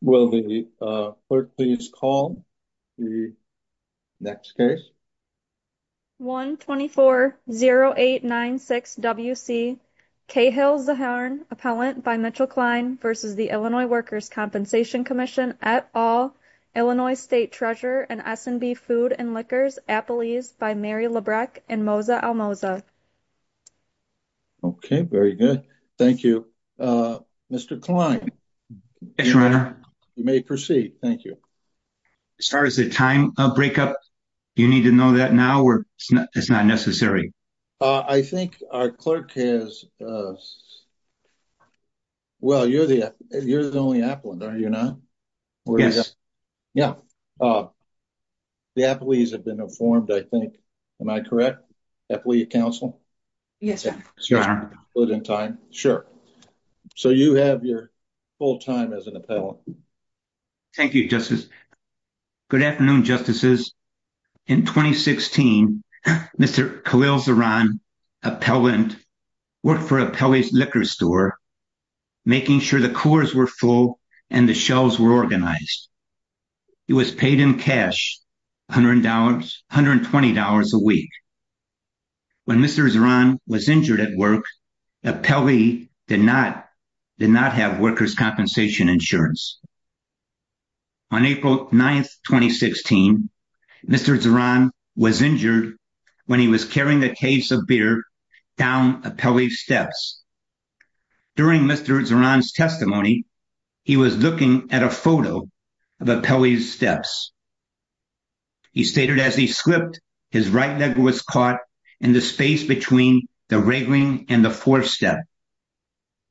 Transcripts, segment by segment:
Will the clerk please call the next case? 1-240-896-WC, Cahill Zahran, Appellant by Mitchell Klein v. Illinois Workers' Compensation Comm'n, et al., Illinois State Treasurer and S&B Food and Liquors, Appellees by Mary Labreck and Moza Almoza. Mr. Zahran, you may proceed. As far as a time breakup, do you need to know that now, or is it not necessary? You are the only appellant, are you not? Yes. Yeah, the appellees have been informed, I think, am I correct? Appellee of counsel? Yes, your honor. Good in time, sure. So you have your full time as an appellant. Thank you, justice. Good afternoon, justices. In 2016, Mr. Khalil Zahran, appellant, worked for Appellee's Liquor Store, making sure the cores were full and the shelves were organized. He was paid in cash $120 a week. When Mr. Zahran was injured at work, Appellee did not have workers' compensation insurance. On April 9, 2016, Mr. Zahran was injured when he was carrying a case of beer down Appellee's steps. During Mr. Zahran's testimony, he was looking at a photo of Appellee's steps. He stated, as he slipped, his right leg was caught in the space between the railing and the fourth step.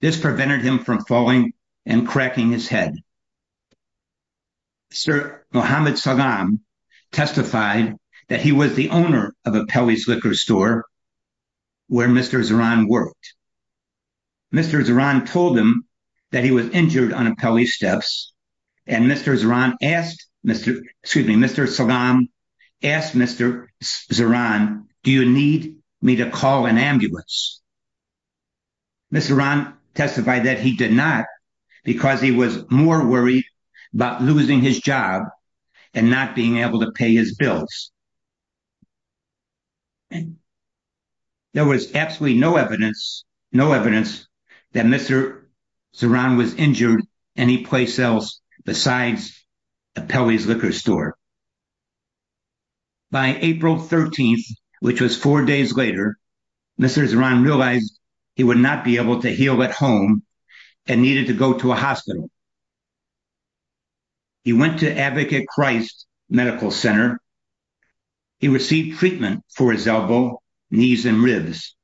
This prevented him from falling and cracking his head. Sir Mohammed Salam testified that he was the owner of Appellee's Liquor Store, where Mr. Zahran worked. Mr. Zahran told him that he was injured on Appellee's steps, and Mr. Salam asked Mr. Zahran, do you need me to call an ambulance? Mr. Zahran testified that he did not, because he was more worried about losing his job and not being able to pay his bills. There was absolutely no evidence that Mr. Zahran was injured anyplace else besides Appellee's Liquor Store. By April 13, which was four days later, Mr. Zahran realized he would not be able to heal at home and needed to go to a hospital. He went to Advocate Christ Medical Center, where he received treatment for his elbow, knees, and ribs.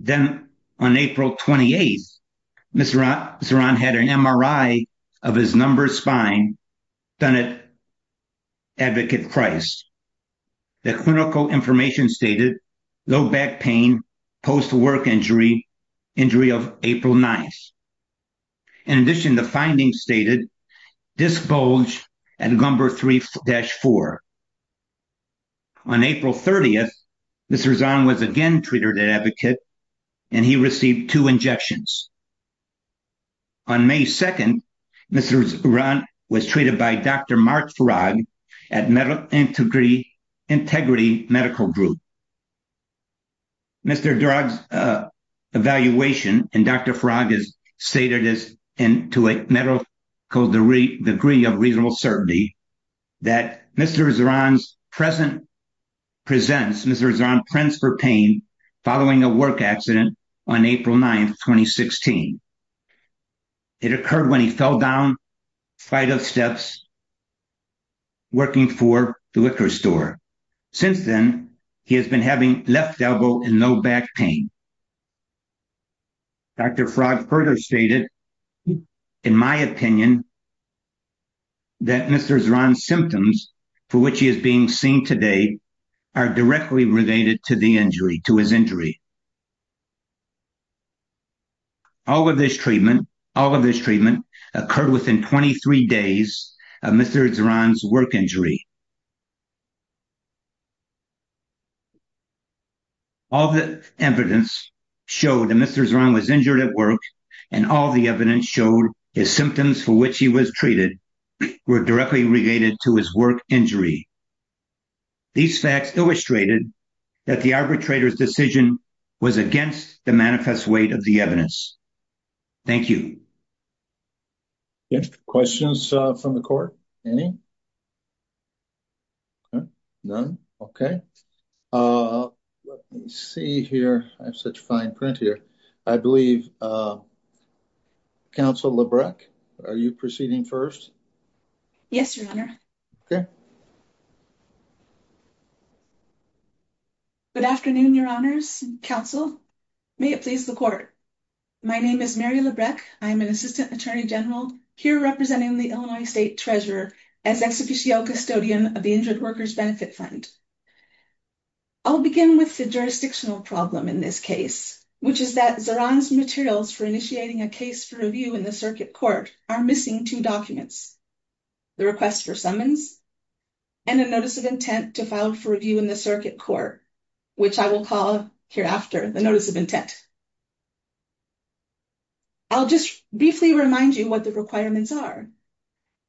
Then, on April 28, Mr. Zahran had an MRI of his numbered spine done at Advocate Christ. The clinical information stated low back pain, post-work injury, injury of April 9. In addition, the findings stated disc bulge at number 3-4. On April 30, Mr. Zahran was again treated at Advocate, and he received two injections. On May 2, Mr. Zahran was treated by Dr. Mark Farag at Integrity Medical Group. In Mr. Farag's evaluation, Dr. Farag stated to a medical degree of reasonable certainty that Mr. Zahran presents for pain following a work accident on April 9, 2016. It occurred when he fell down a flight of steps working for the liquor store. Since then, he has been having left elbow and low back pain. Dr. Farag further stated, in my opinion, that Mr. Zahran's symptoms, for which he is being seen today, are directly related to his injury. All of this treatment occurred within 23 days of Mr. Zahran's work injury. All of the evidence showed that Mr. Zahran was injured at work, and all of the evidence showed his symptoms, for which he was treated, were directly related to his work injury. These facts illustrated that the arbitrator's decision was against the manifest weight of the evidence. Thank you. Yes, questions from the court? Any? Okay, none. Okay. Let me see here. I have such fine print here. I believe, Counsel Labreck, are you proceeding first? Yes, Your Honor. Okay. Good afternoon, Your Honors and Counsel. May it please the court. My name is Mary Labreck. I am an Assistant Attorney General, here representing the Illinois State Treasurer as Ex Officio Custodian of the Injured Workers Benefit Fund. I'll begin with the jurisdictional problem in this case, which is that Zahran's materials for initiating a case for review in the circuit court are missing two documents, the request for summons, and a notice of intent to file for review in the circuit court, which I will call hereafter the notice of intent. I'll just briefly remind you what the requirements are.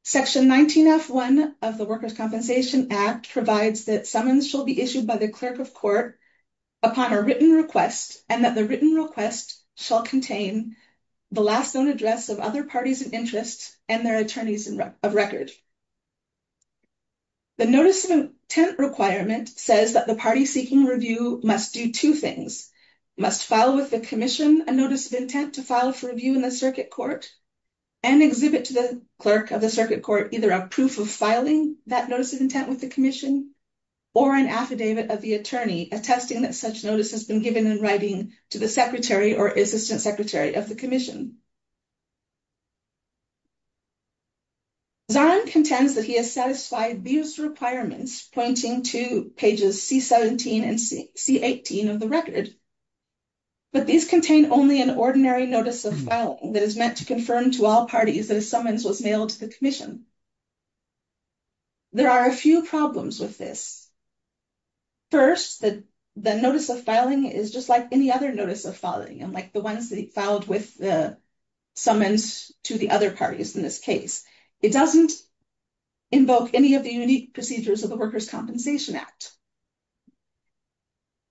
Section 19F1 of the Workers' Compensation Act provides that summons shall be issued by the clerk of court upon a written request and that the written request shall contain the last known address of other parties of interest and their attorneys of record. The notice of intent requirement says that the party seeking review must do two things, must file with the commission a notice of intent to file for review in the circuit court and exhibit to the clerk of the circuit court either a proof of filing that notice of intent with the commission or an affidavit of the attorney attesting that such notice has been given in writing to the secretary or assistant secretary of the commission. Zahran contends that he has satisfied these requirements, pointing to pages C17 and C18 of the record, but these contain only an ordinary notice of filing that is meant to confirm to all parties that a summons was mailed to the commission. There are a few problems with this. First, the notice of filing is just like any other notice of filing and like the ones that he filed with the summons to the other parties in this case. It doesn't invoke any of the unique procedures of the Workers' Compensation Act.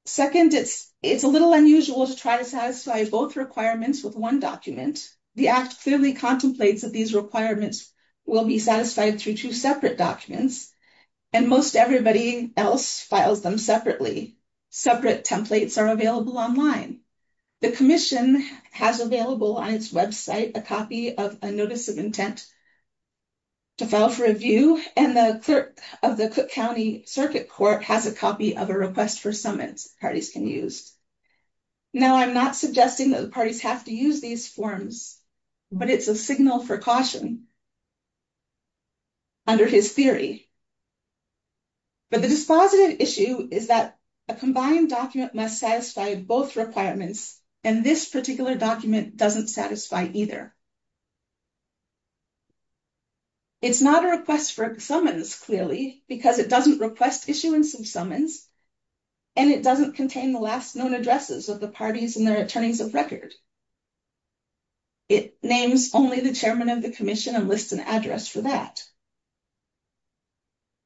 Second, it's a little unusual to try to satisfy both requirements with one document. The Act clearly contemplates that these requirements will be satisfied through two separate documents and most everybody else files them separately. Separate templates are available online. The commission has available on its website a copy of a notice of intent to file for review and the clerk of the Cook County circuit court has a copy of a request for summons parties can use. Now, I'm not suggesting that the parties have to use these forms, but it's a signal for caution under his theory. But the dispositive issue is that a combined document must satisfy both requirements and this particular document doesn't satisfy either. It's not a request for summons clearly because it doesn't request issuance of summons and it doesn't contain the last known addresses of the parties and their attorneys of record. It names only the chairman of the commission and lists an address for that.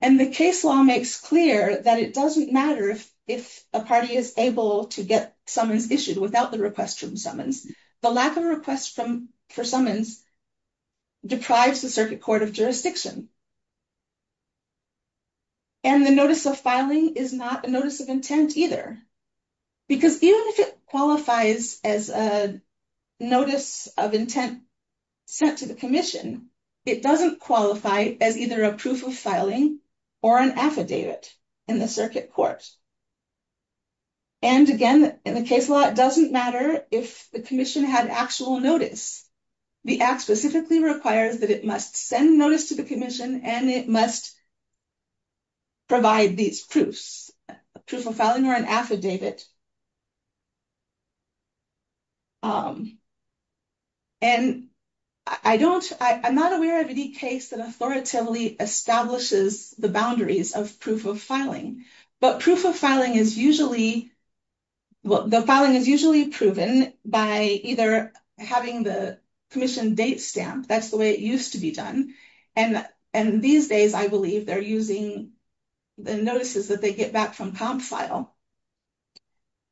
And the case law makes clear that it doesn't matter if a party is able to get summons issued without the request from summons. The lack of requests for summons deprives the circuit court of jurisdiction. And the notice of filing is not a notice of intent either, because even if it qualifies as a notice of intent sent to the commission, it doesn't qualify as either a proof of filing or an affidavit in the circuit court. And again, in the case law, it doesn't matter if the commission had actual notice. The act specifically requires that it must send notice to the commission and it must provide these proofs, a proof of filing or an court that authoritatively establishes the boundaries of proof of filing. But proof of filing is usually, well, the filing is usually proven by either having the commission date stamp. That's the way it used to be done. And these days, I believe they're using the notices that they get back from comp file.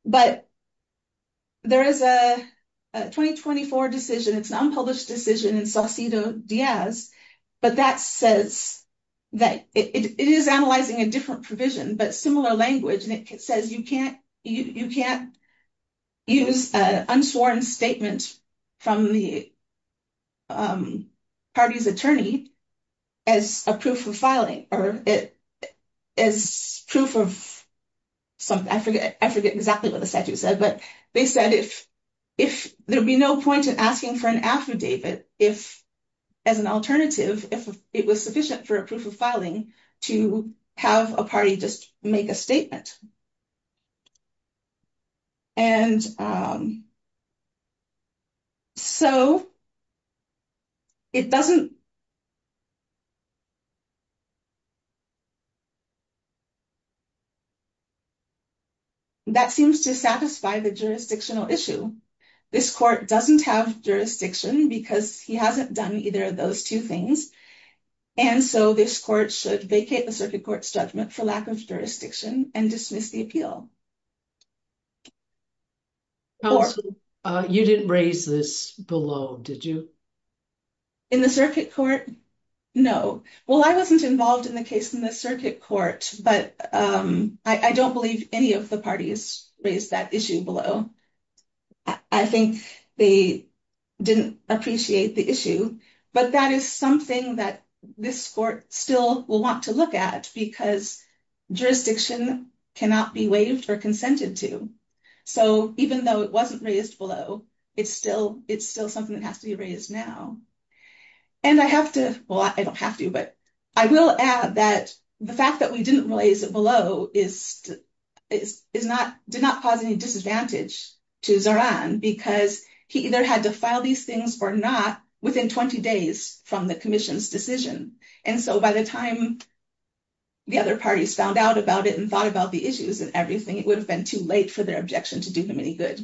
But there is a 2024 decision, it's an unpublished decision in Saucito Diaz, but that says that it is analyzing a different provision, but similar language. And it says you can't use an unsworn statement from the party's attorney as a proof of filing or as proof of something. I forget exactly what the statute said, but they said there'd be no point in asking for an affidavit as an alternative if it was sufficient for a proof of filing to have a party just make a statement. And so it doesn't, that seems to satisfy the jurisdictional issue. This court doesn't have jurisdiction because he hasn't done either of those two things. And so this court should vacate the circuit court's judgment for lack of jurisdiction and dismiss the appeal. Counsel, you didn't raise this below, did you? In the circuit court? No. Well, I wasn't involved in the case in the circuit court, but I don't believe any of the parties raised that issue below. I think they didn't appreciate the issue, but that is something that this court still will want to look at because jurisdiction cannot be waived or consented to. So even though it wasn't raised below, it's still something that has to be raised now. And I have to, well, I don't have to, but I will add that the fact that we didn't raise it below did not cause any disadvantage to Zoran because he either had to file these things or not within 20 days from the commission's decision. And so by the time the other parties found out about it and thought about the issues and everything, it would have been too late for their objection to do him any good.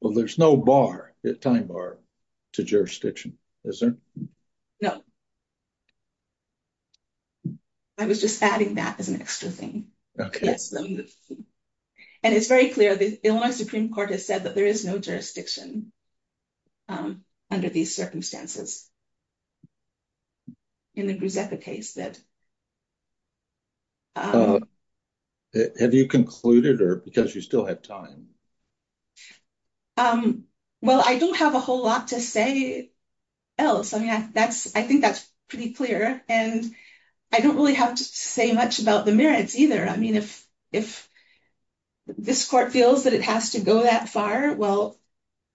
Well, there's no bar, time bar, to jurisdiction, is there? No. I was just adding that as an extra thing. Okay. And it's very clear the Illinois Supreme Court has said that there is no jurisdiction under these circumstances in the Gruszeka case. Have you concluded or because you still have time? Well, I don't have a whole lot to say else. I mean, I think that's pretty clear and I don't really have to say much about the merits either. I mean, if this court feels that it has to go that far, well,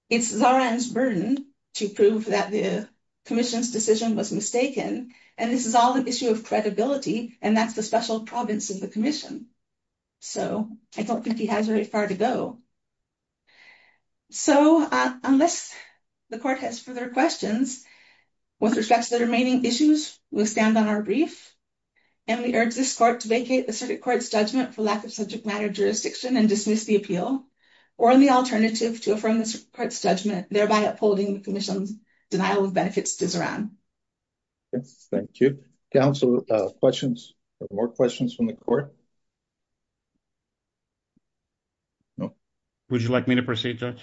it's Zoran's burden to prove that the commission's decision was mistaken. And this is an issue of credibility and that's the special province of the commission. So I don't think he has very far to go. So unless the court has further questions with respect to the remaining issues, we'll stand on our brief and we urge this court to vacate the circuit court's judgment for lack of subject matter jurisdiction and dismiss the appeal or the alternative to affirm this court's judgment, thereby upholding the commission's denial of benefits to Zoran. Yes, thank you. Counsel, questions or more questions from the court? No. Would you like me to proceed, Judge?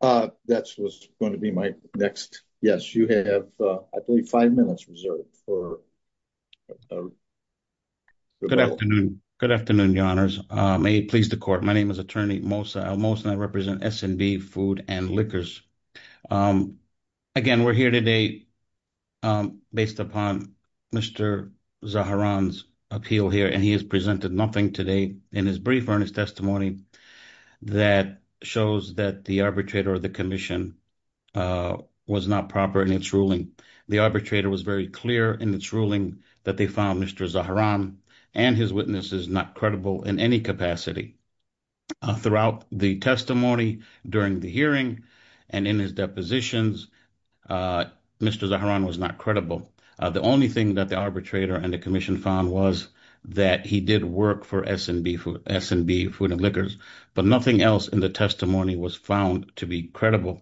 That was going to be my next. Yes, you have, I believe, five minutes reserved for... Good afternoon. Good afternoon, Your Honors. May it please the court. My name is Attorney Mosa Elmos and I represent S&B Food and Liquors. Again, we're here today based upon Mr. Zaharan's appeal here and he has presented nothing today in his brief earnest testimony that shows that the arbitrator of the commission was not proper in its ruling. The arbitrator was very clear in its ruling that they found Mr. Zaharan and his witnesses not credible in any capacity throughout the testimony, during the and in his depositions. Mr. Zaharan was not credible. The only thing that the arbitrator and the commission found was that he did work for S&B Food and Liquors, but nothing else in the testimony was found to be credible.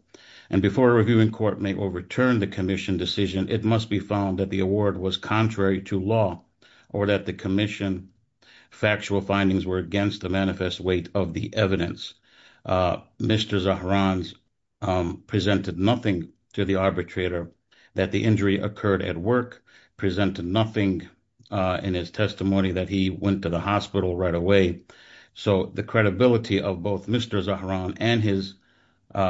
And before a reviewing court may overturn the commission decision, it must be found that the award was contrary to law or that the commission factual findings were against the manifest weight of the evidence. Mr. Zaharan presented nothing to the arbitrator that the injury occurred at work, presented nothing in his testimony that he went to the hospital right away. So the credibility of both Mr. Zaharan and his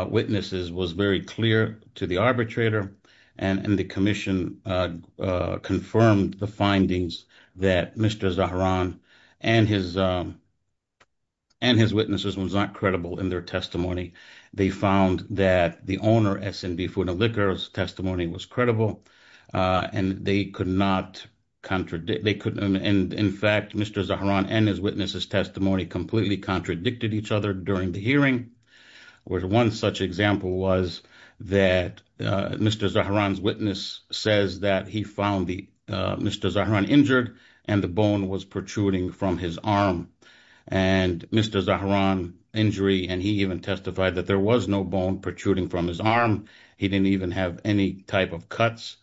witnesses was very clear to the arbitrator and the commission confirmed the findings that Mr. Zaharan and his witnesses was not credible in their testimony. They found that the owner S&B Food and Liquors testimony was credible and they could not contradict. In fact, Mr. Zaharan and his witnesses testimony completely contradicted each other during the hearing. One such example was that Mr. Zaharan's witness says that he found Mr. Zaharan injured and the bone was protruding from his arm. And Mr. Zaharan injury and he even testified that there was no bone protruding from his arm. He didn't even have any type of cuts.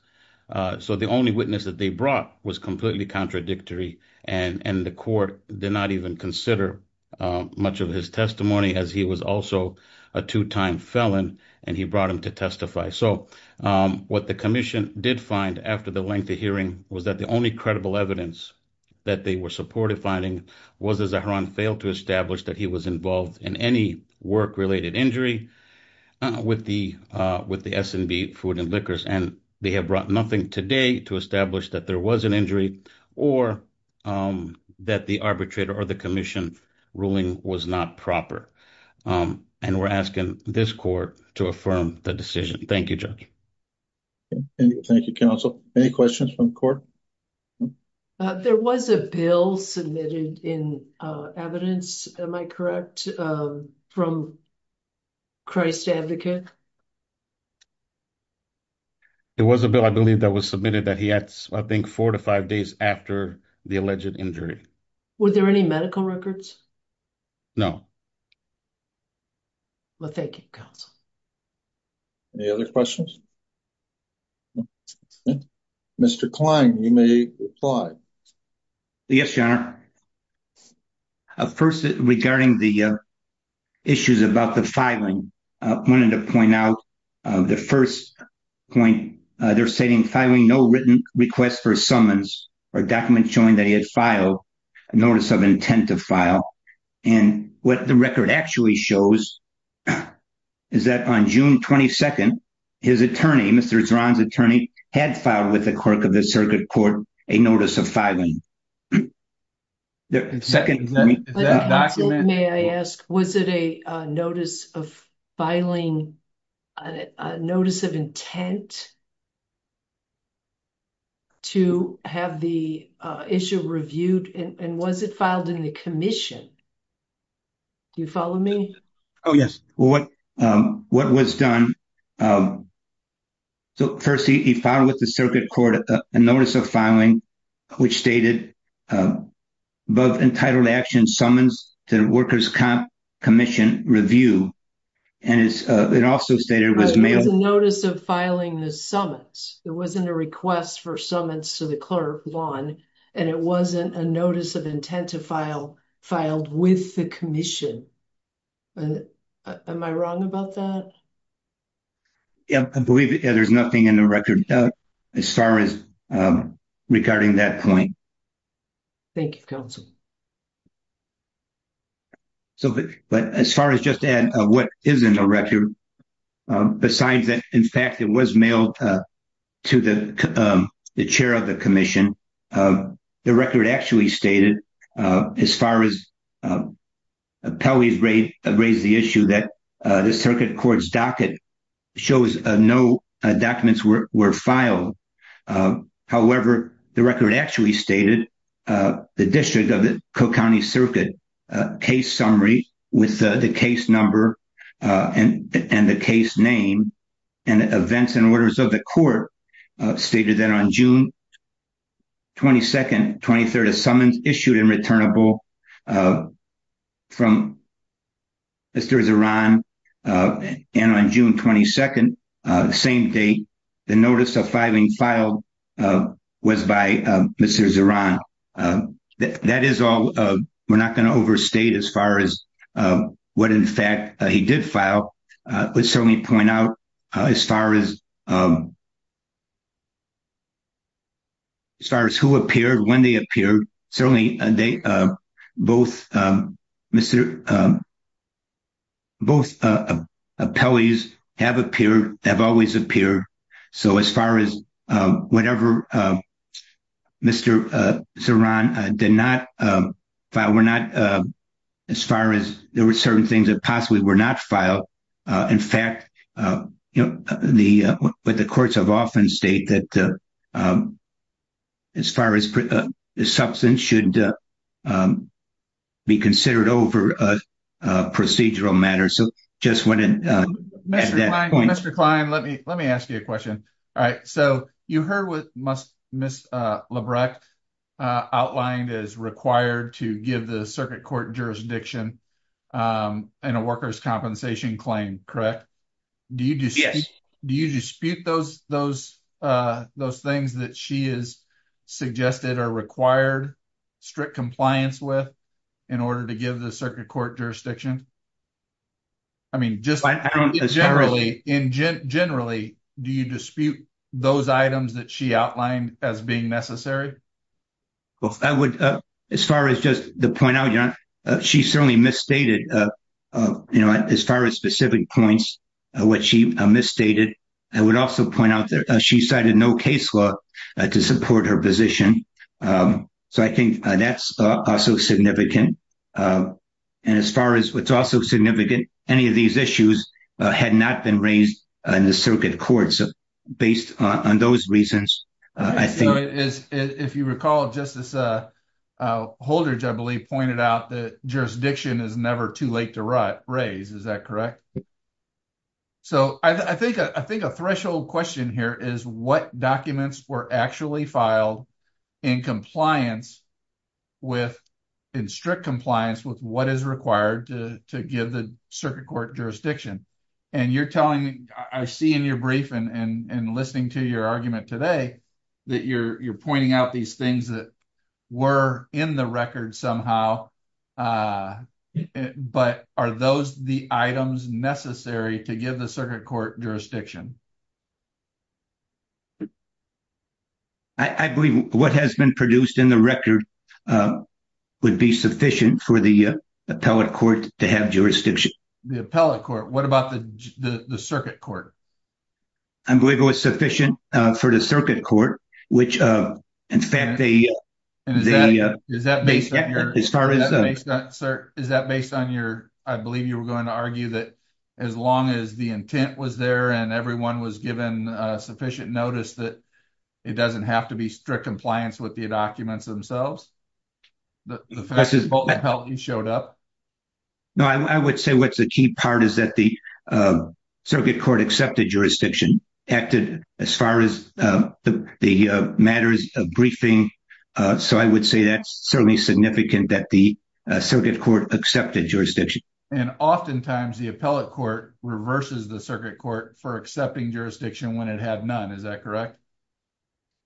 So the only witness that they brought was completely contradictory and the court did not even consider much of his testimony as he was also a two-time felon and he brought him to testify. So what the commission did find after the length of hearing was that the only credible evidence that they were supportive finding was that Zaharan failed to establish that he was involved in any work-related injury with the S&B Food and Liquors and they have brought nothing today to establish that there was an injury or that the arbitrator or the commission ruling was not proper. And we're asking this court to affirm the decision. Thank you, Judge. Thank you, counsel. Any questions from court? There was a bill submitted in evidence, am I correct, from Christ Advocate? There was a bill, I believe, that was submitted that he had, I think, four to five days after the alleged injury. Were there any medical records? No. Well, thank you, counsel. Any other questions? Mr. Kline, you may reply. Yes, your honor. First, regarding the issues about the filing, I wanted to point out the first point. They're stating filing no written request for summons or documents showing that he had filed a notice of intent to file. And what the record actually shows is that on June 22nd, his attorney, Mr. Zaharan's attorney, had filed with the clerk of the circuit court a notice of filing. The second... May I ask, was it a notice of filing, a notice of intent to have the issue reviewed? And was it filed in the commission? Do you follow me? Oh, yes. Well, what was done... So, first, he filed with the circuit court a notice of filing, which stated, above entitled action summons to the workers' commission review. And it also stated it was... It was a notice of filing the summons. It wasn't a request for summons to the clerk, Vaughn, and it wasn't a notice of intent to file filed with the commission. Am I wrong about that? Yeah, I believe there's nothing in the record as far as regarding that point. Thank you, counsel. So, but as far as just to add what isn't a record, besides that, in fact, it was mailed to the chair of the commission, the record actually stated, as far as Pelley's raised the issue that the circuit court's docket shows no documents were filed. However, the record actually stated the district of the Cook County Circuit case summary with the case number and the case name and events and orders of the court stated that on June 22nd, 23rd, a summons issued and returnable from Mr. Zaran. And on June 22nd, same day, the notice of filing filed was by Mr. Zaran. That is all. We're not going to overstate as far as what, in fact, he did file. Let's certainly point out as far as as far as who appeared, when they appeared, certainly they both Mr. Both Pelley's have appeared, have always appeared. So as far as whatever Mr. Zaran did not file, we're not as far as there were certain things that possibly were not filed. In fact, you know, the, but the courts have often state that as far as the substance should be considered over a procedural matter. So just wanted Mr. Klein, let me, let me ask you a question. All right. So you heard what must miss Labreck outlined is required to give the circuit court jurisdiction, um, and a worker's compensation claim, correct? Do you just, do you dispute those, those, uh, those things that she is suggested are required strict compliance with in order to give the circuit court jurisdiction? I mean, just generally in generally, do you dispute those items that she outlined as being necessary? Well, I would, uh, as far as just the point out, you know, she certainly misstated, uh, uh, you know, as far as specific points, uh, what she misstated, I would also point out that she cited no case law to support her position. Um, so I think that's also significant. Um, and as far as what's also significant, any of these issues had not been raised in the circuit courts based on those reasons, I think. If you recall, Justice, uh, uh, Holder, I believe pointed out that jurisdiction is never too late to raise, is that correct? So I think, I think a threshold question here is what documents were actually filed in compliance with, in strict compliance with what is required to, to give the circuit court jurisdiction. And you're telling me, I see in your brief and, and listening to your argument today, that you're, you're pointing out these things that were in the record somehow, uh, but are those the items necessary to give the circuit court jurisdiction? I believe what has been produced in the record, uh, would be sufficient for the appellate court to have jurisdiction. The appellate court, what about the circuit court? I believe it was sufficient, uh, for the circuit court, which, uh, in fact, they, they, uh, is that based on your, as far as, sir, is that based on your, I believe you were going to argue that as long as the intent was there and everyone was given, uh, sufficient notice that it doesn't have to be strict compliance with the documents themselves, that the appellate court showed up? No, I would say what's the key part is that the, uh, circuit court accepted jurisdiction acted as far as, uh, the, the, uh, matters of briefing. Uh, so I would say that's certainly significant that the, uh, circuit court accepted jurisdiction. And oftentimes the appellate court reverses the circuit court for accepting jurisdiction when it had none. Is that correct?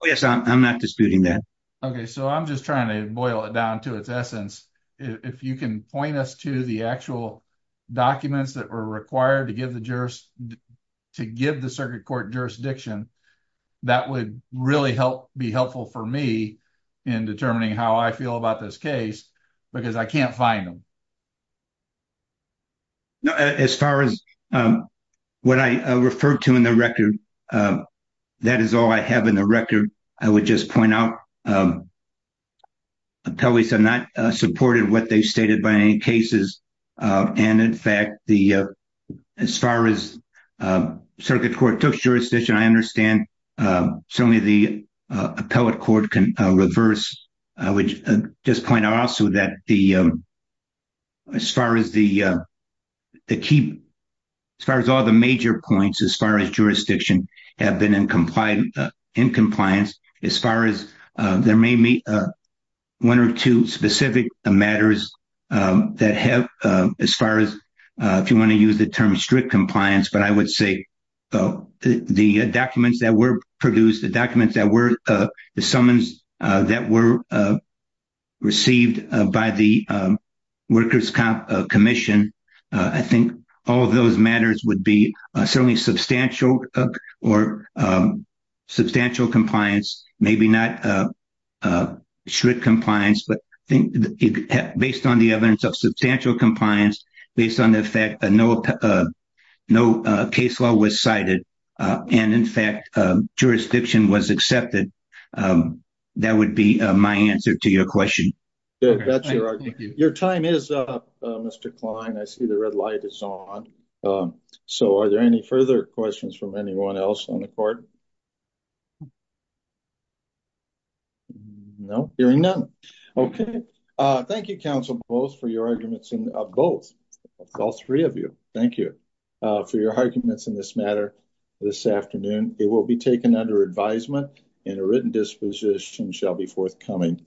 Oh, yes. I'm not disputing that. Okay. So I'm just trying to boil it down to its essence. If you can point us to the actual documents that were required to give the jurist, to give the circuit court jurisdiction, that would really help be helpful for me in determining how I feel about this case, because I can't find them. As far as, um, what I referred to in the record, uh, that is all I have in the record. I would just point out, um, appellees have not supported what they stated by any cases. Uh, and in fact, the, uh, as far as, uh, circuit court took jurisdiction, I understand, uh, certainly the, uh, appellate court can, uh, reverse. I would just point out also that the, um, as far as the, uh, the key, as far as all the major points, as far as jurisdiction have been in compliance, in compliance, as far as, uh, there may meet, uh, one or two specific matters, um, that have, um, as far as, uh, if you want to use the term strict compliance, but I would say, so the documents that were produced, the documents that were, uh, the summons, uh, that were, uh, received, uh, by the, um, workers commission, uh, I think all of those matters would be, uh, certainly substantial, uh, or, um, substantial compliance, maybe not, uh, uh, strict compliance, but I think based on the evidence of substantial compliance, based on the fact that no, uh, no, uh, case law was cited, uh, and in fact, uh, jurisdiction was accepted, um, that would be, uh, my answer to your question. That's your argument. Your time is up, uh, Mr. Klein. I see the red light is on. Um, so are there any further questions from anyone else on the court? No, hearing none. Okay. Uh, thank you, council both for your arguments in both, all three of you. Thank you, uh, for your arguments in this matter this afternoon, it will be taken under advisement and a written disposition shall be forthcoming.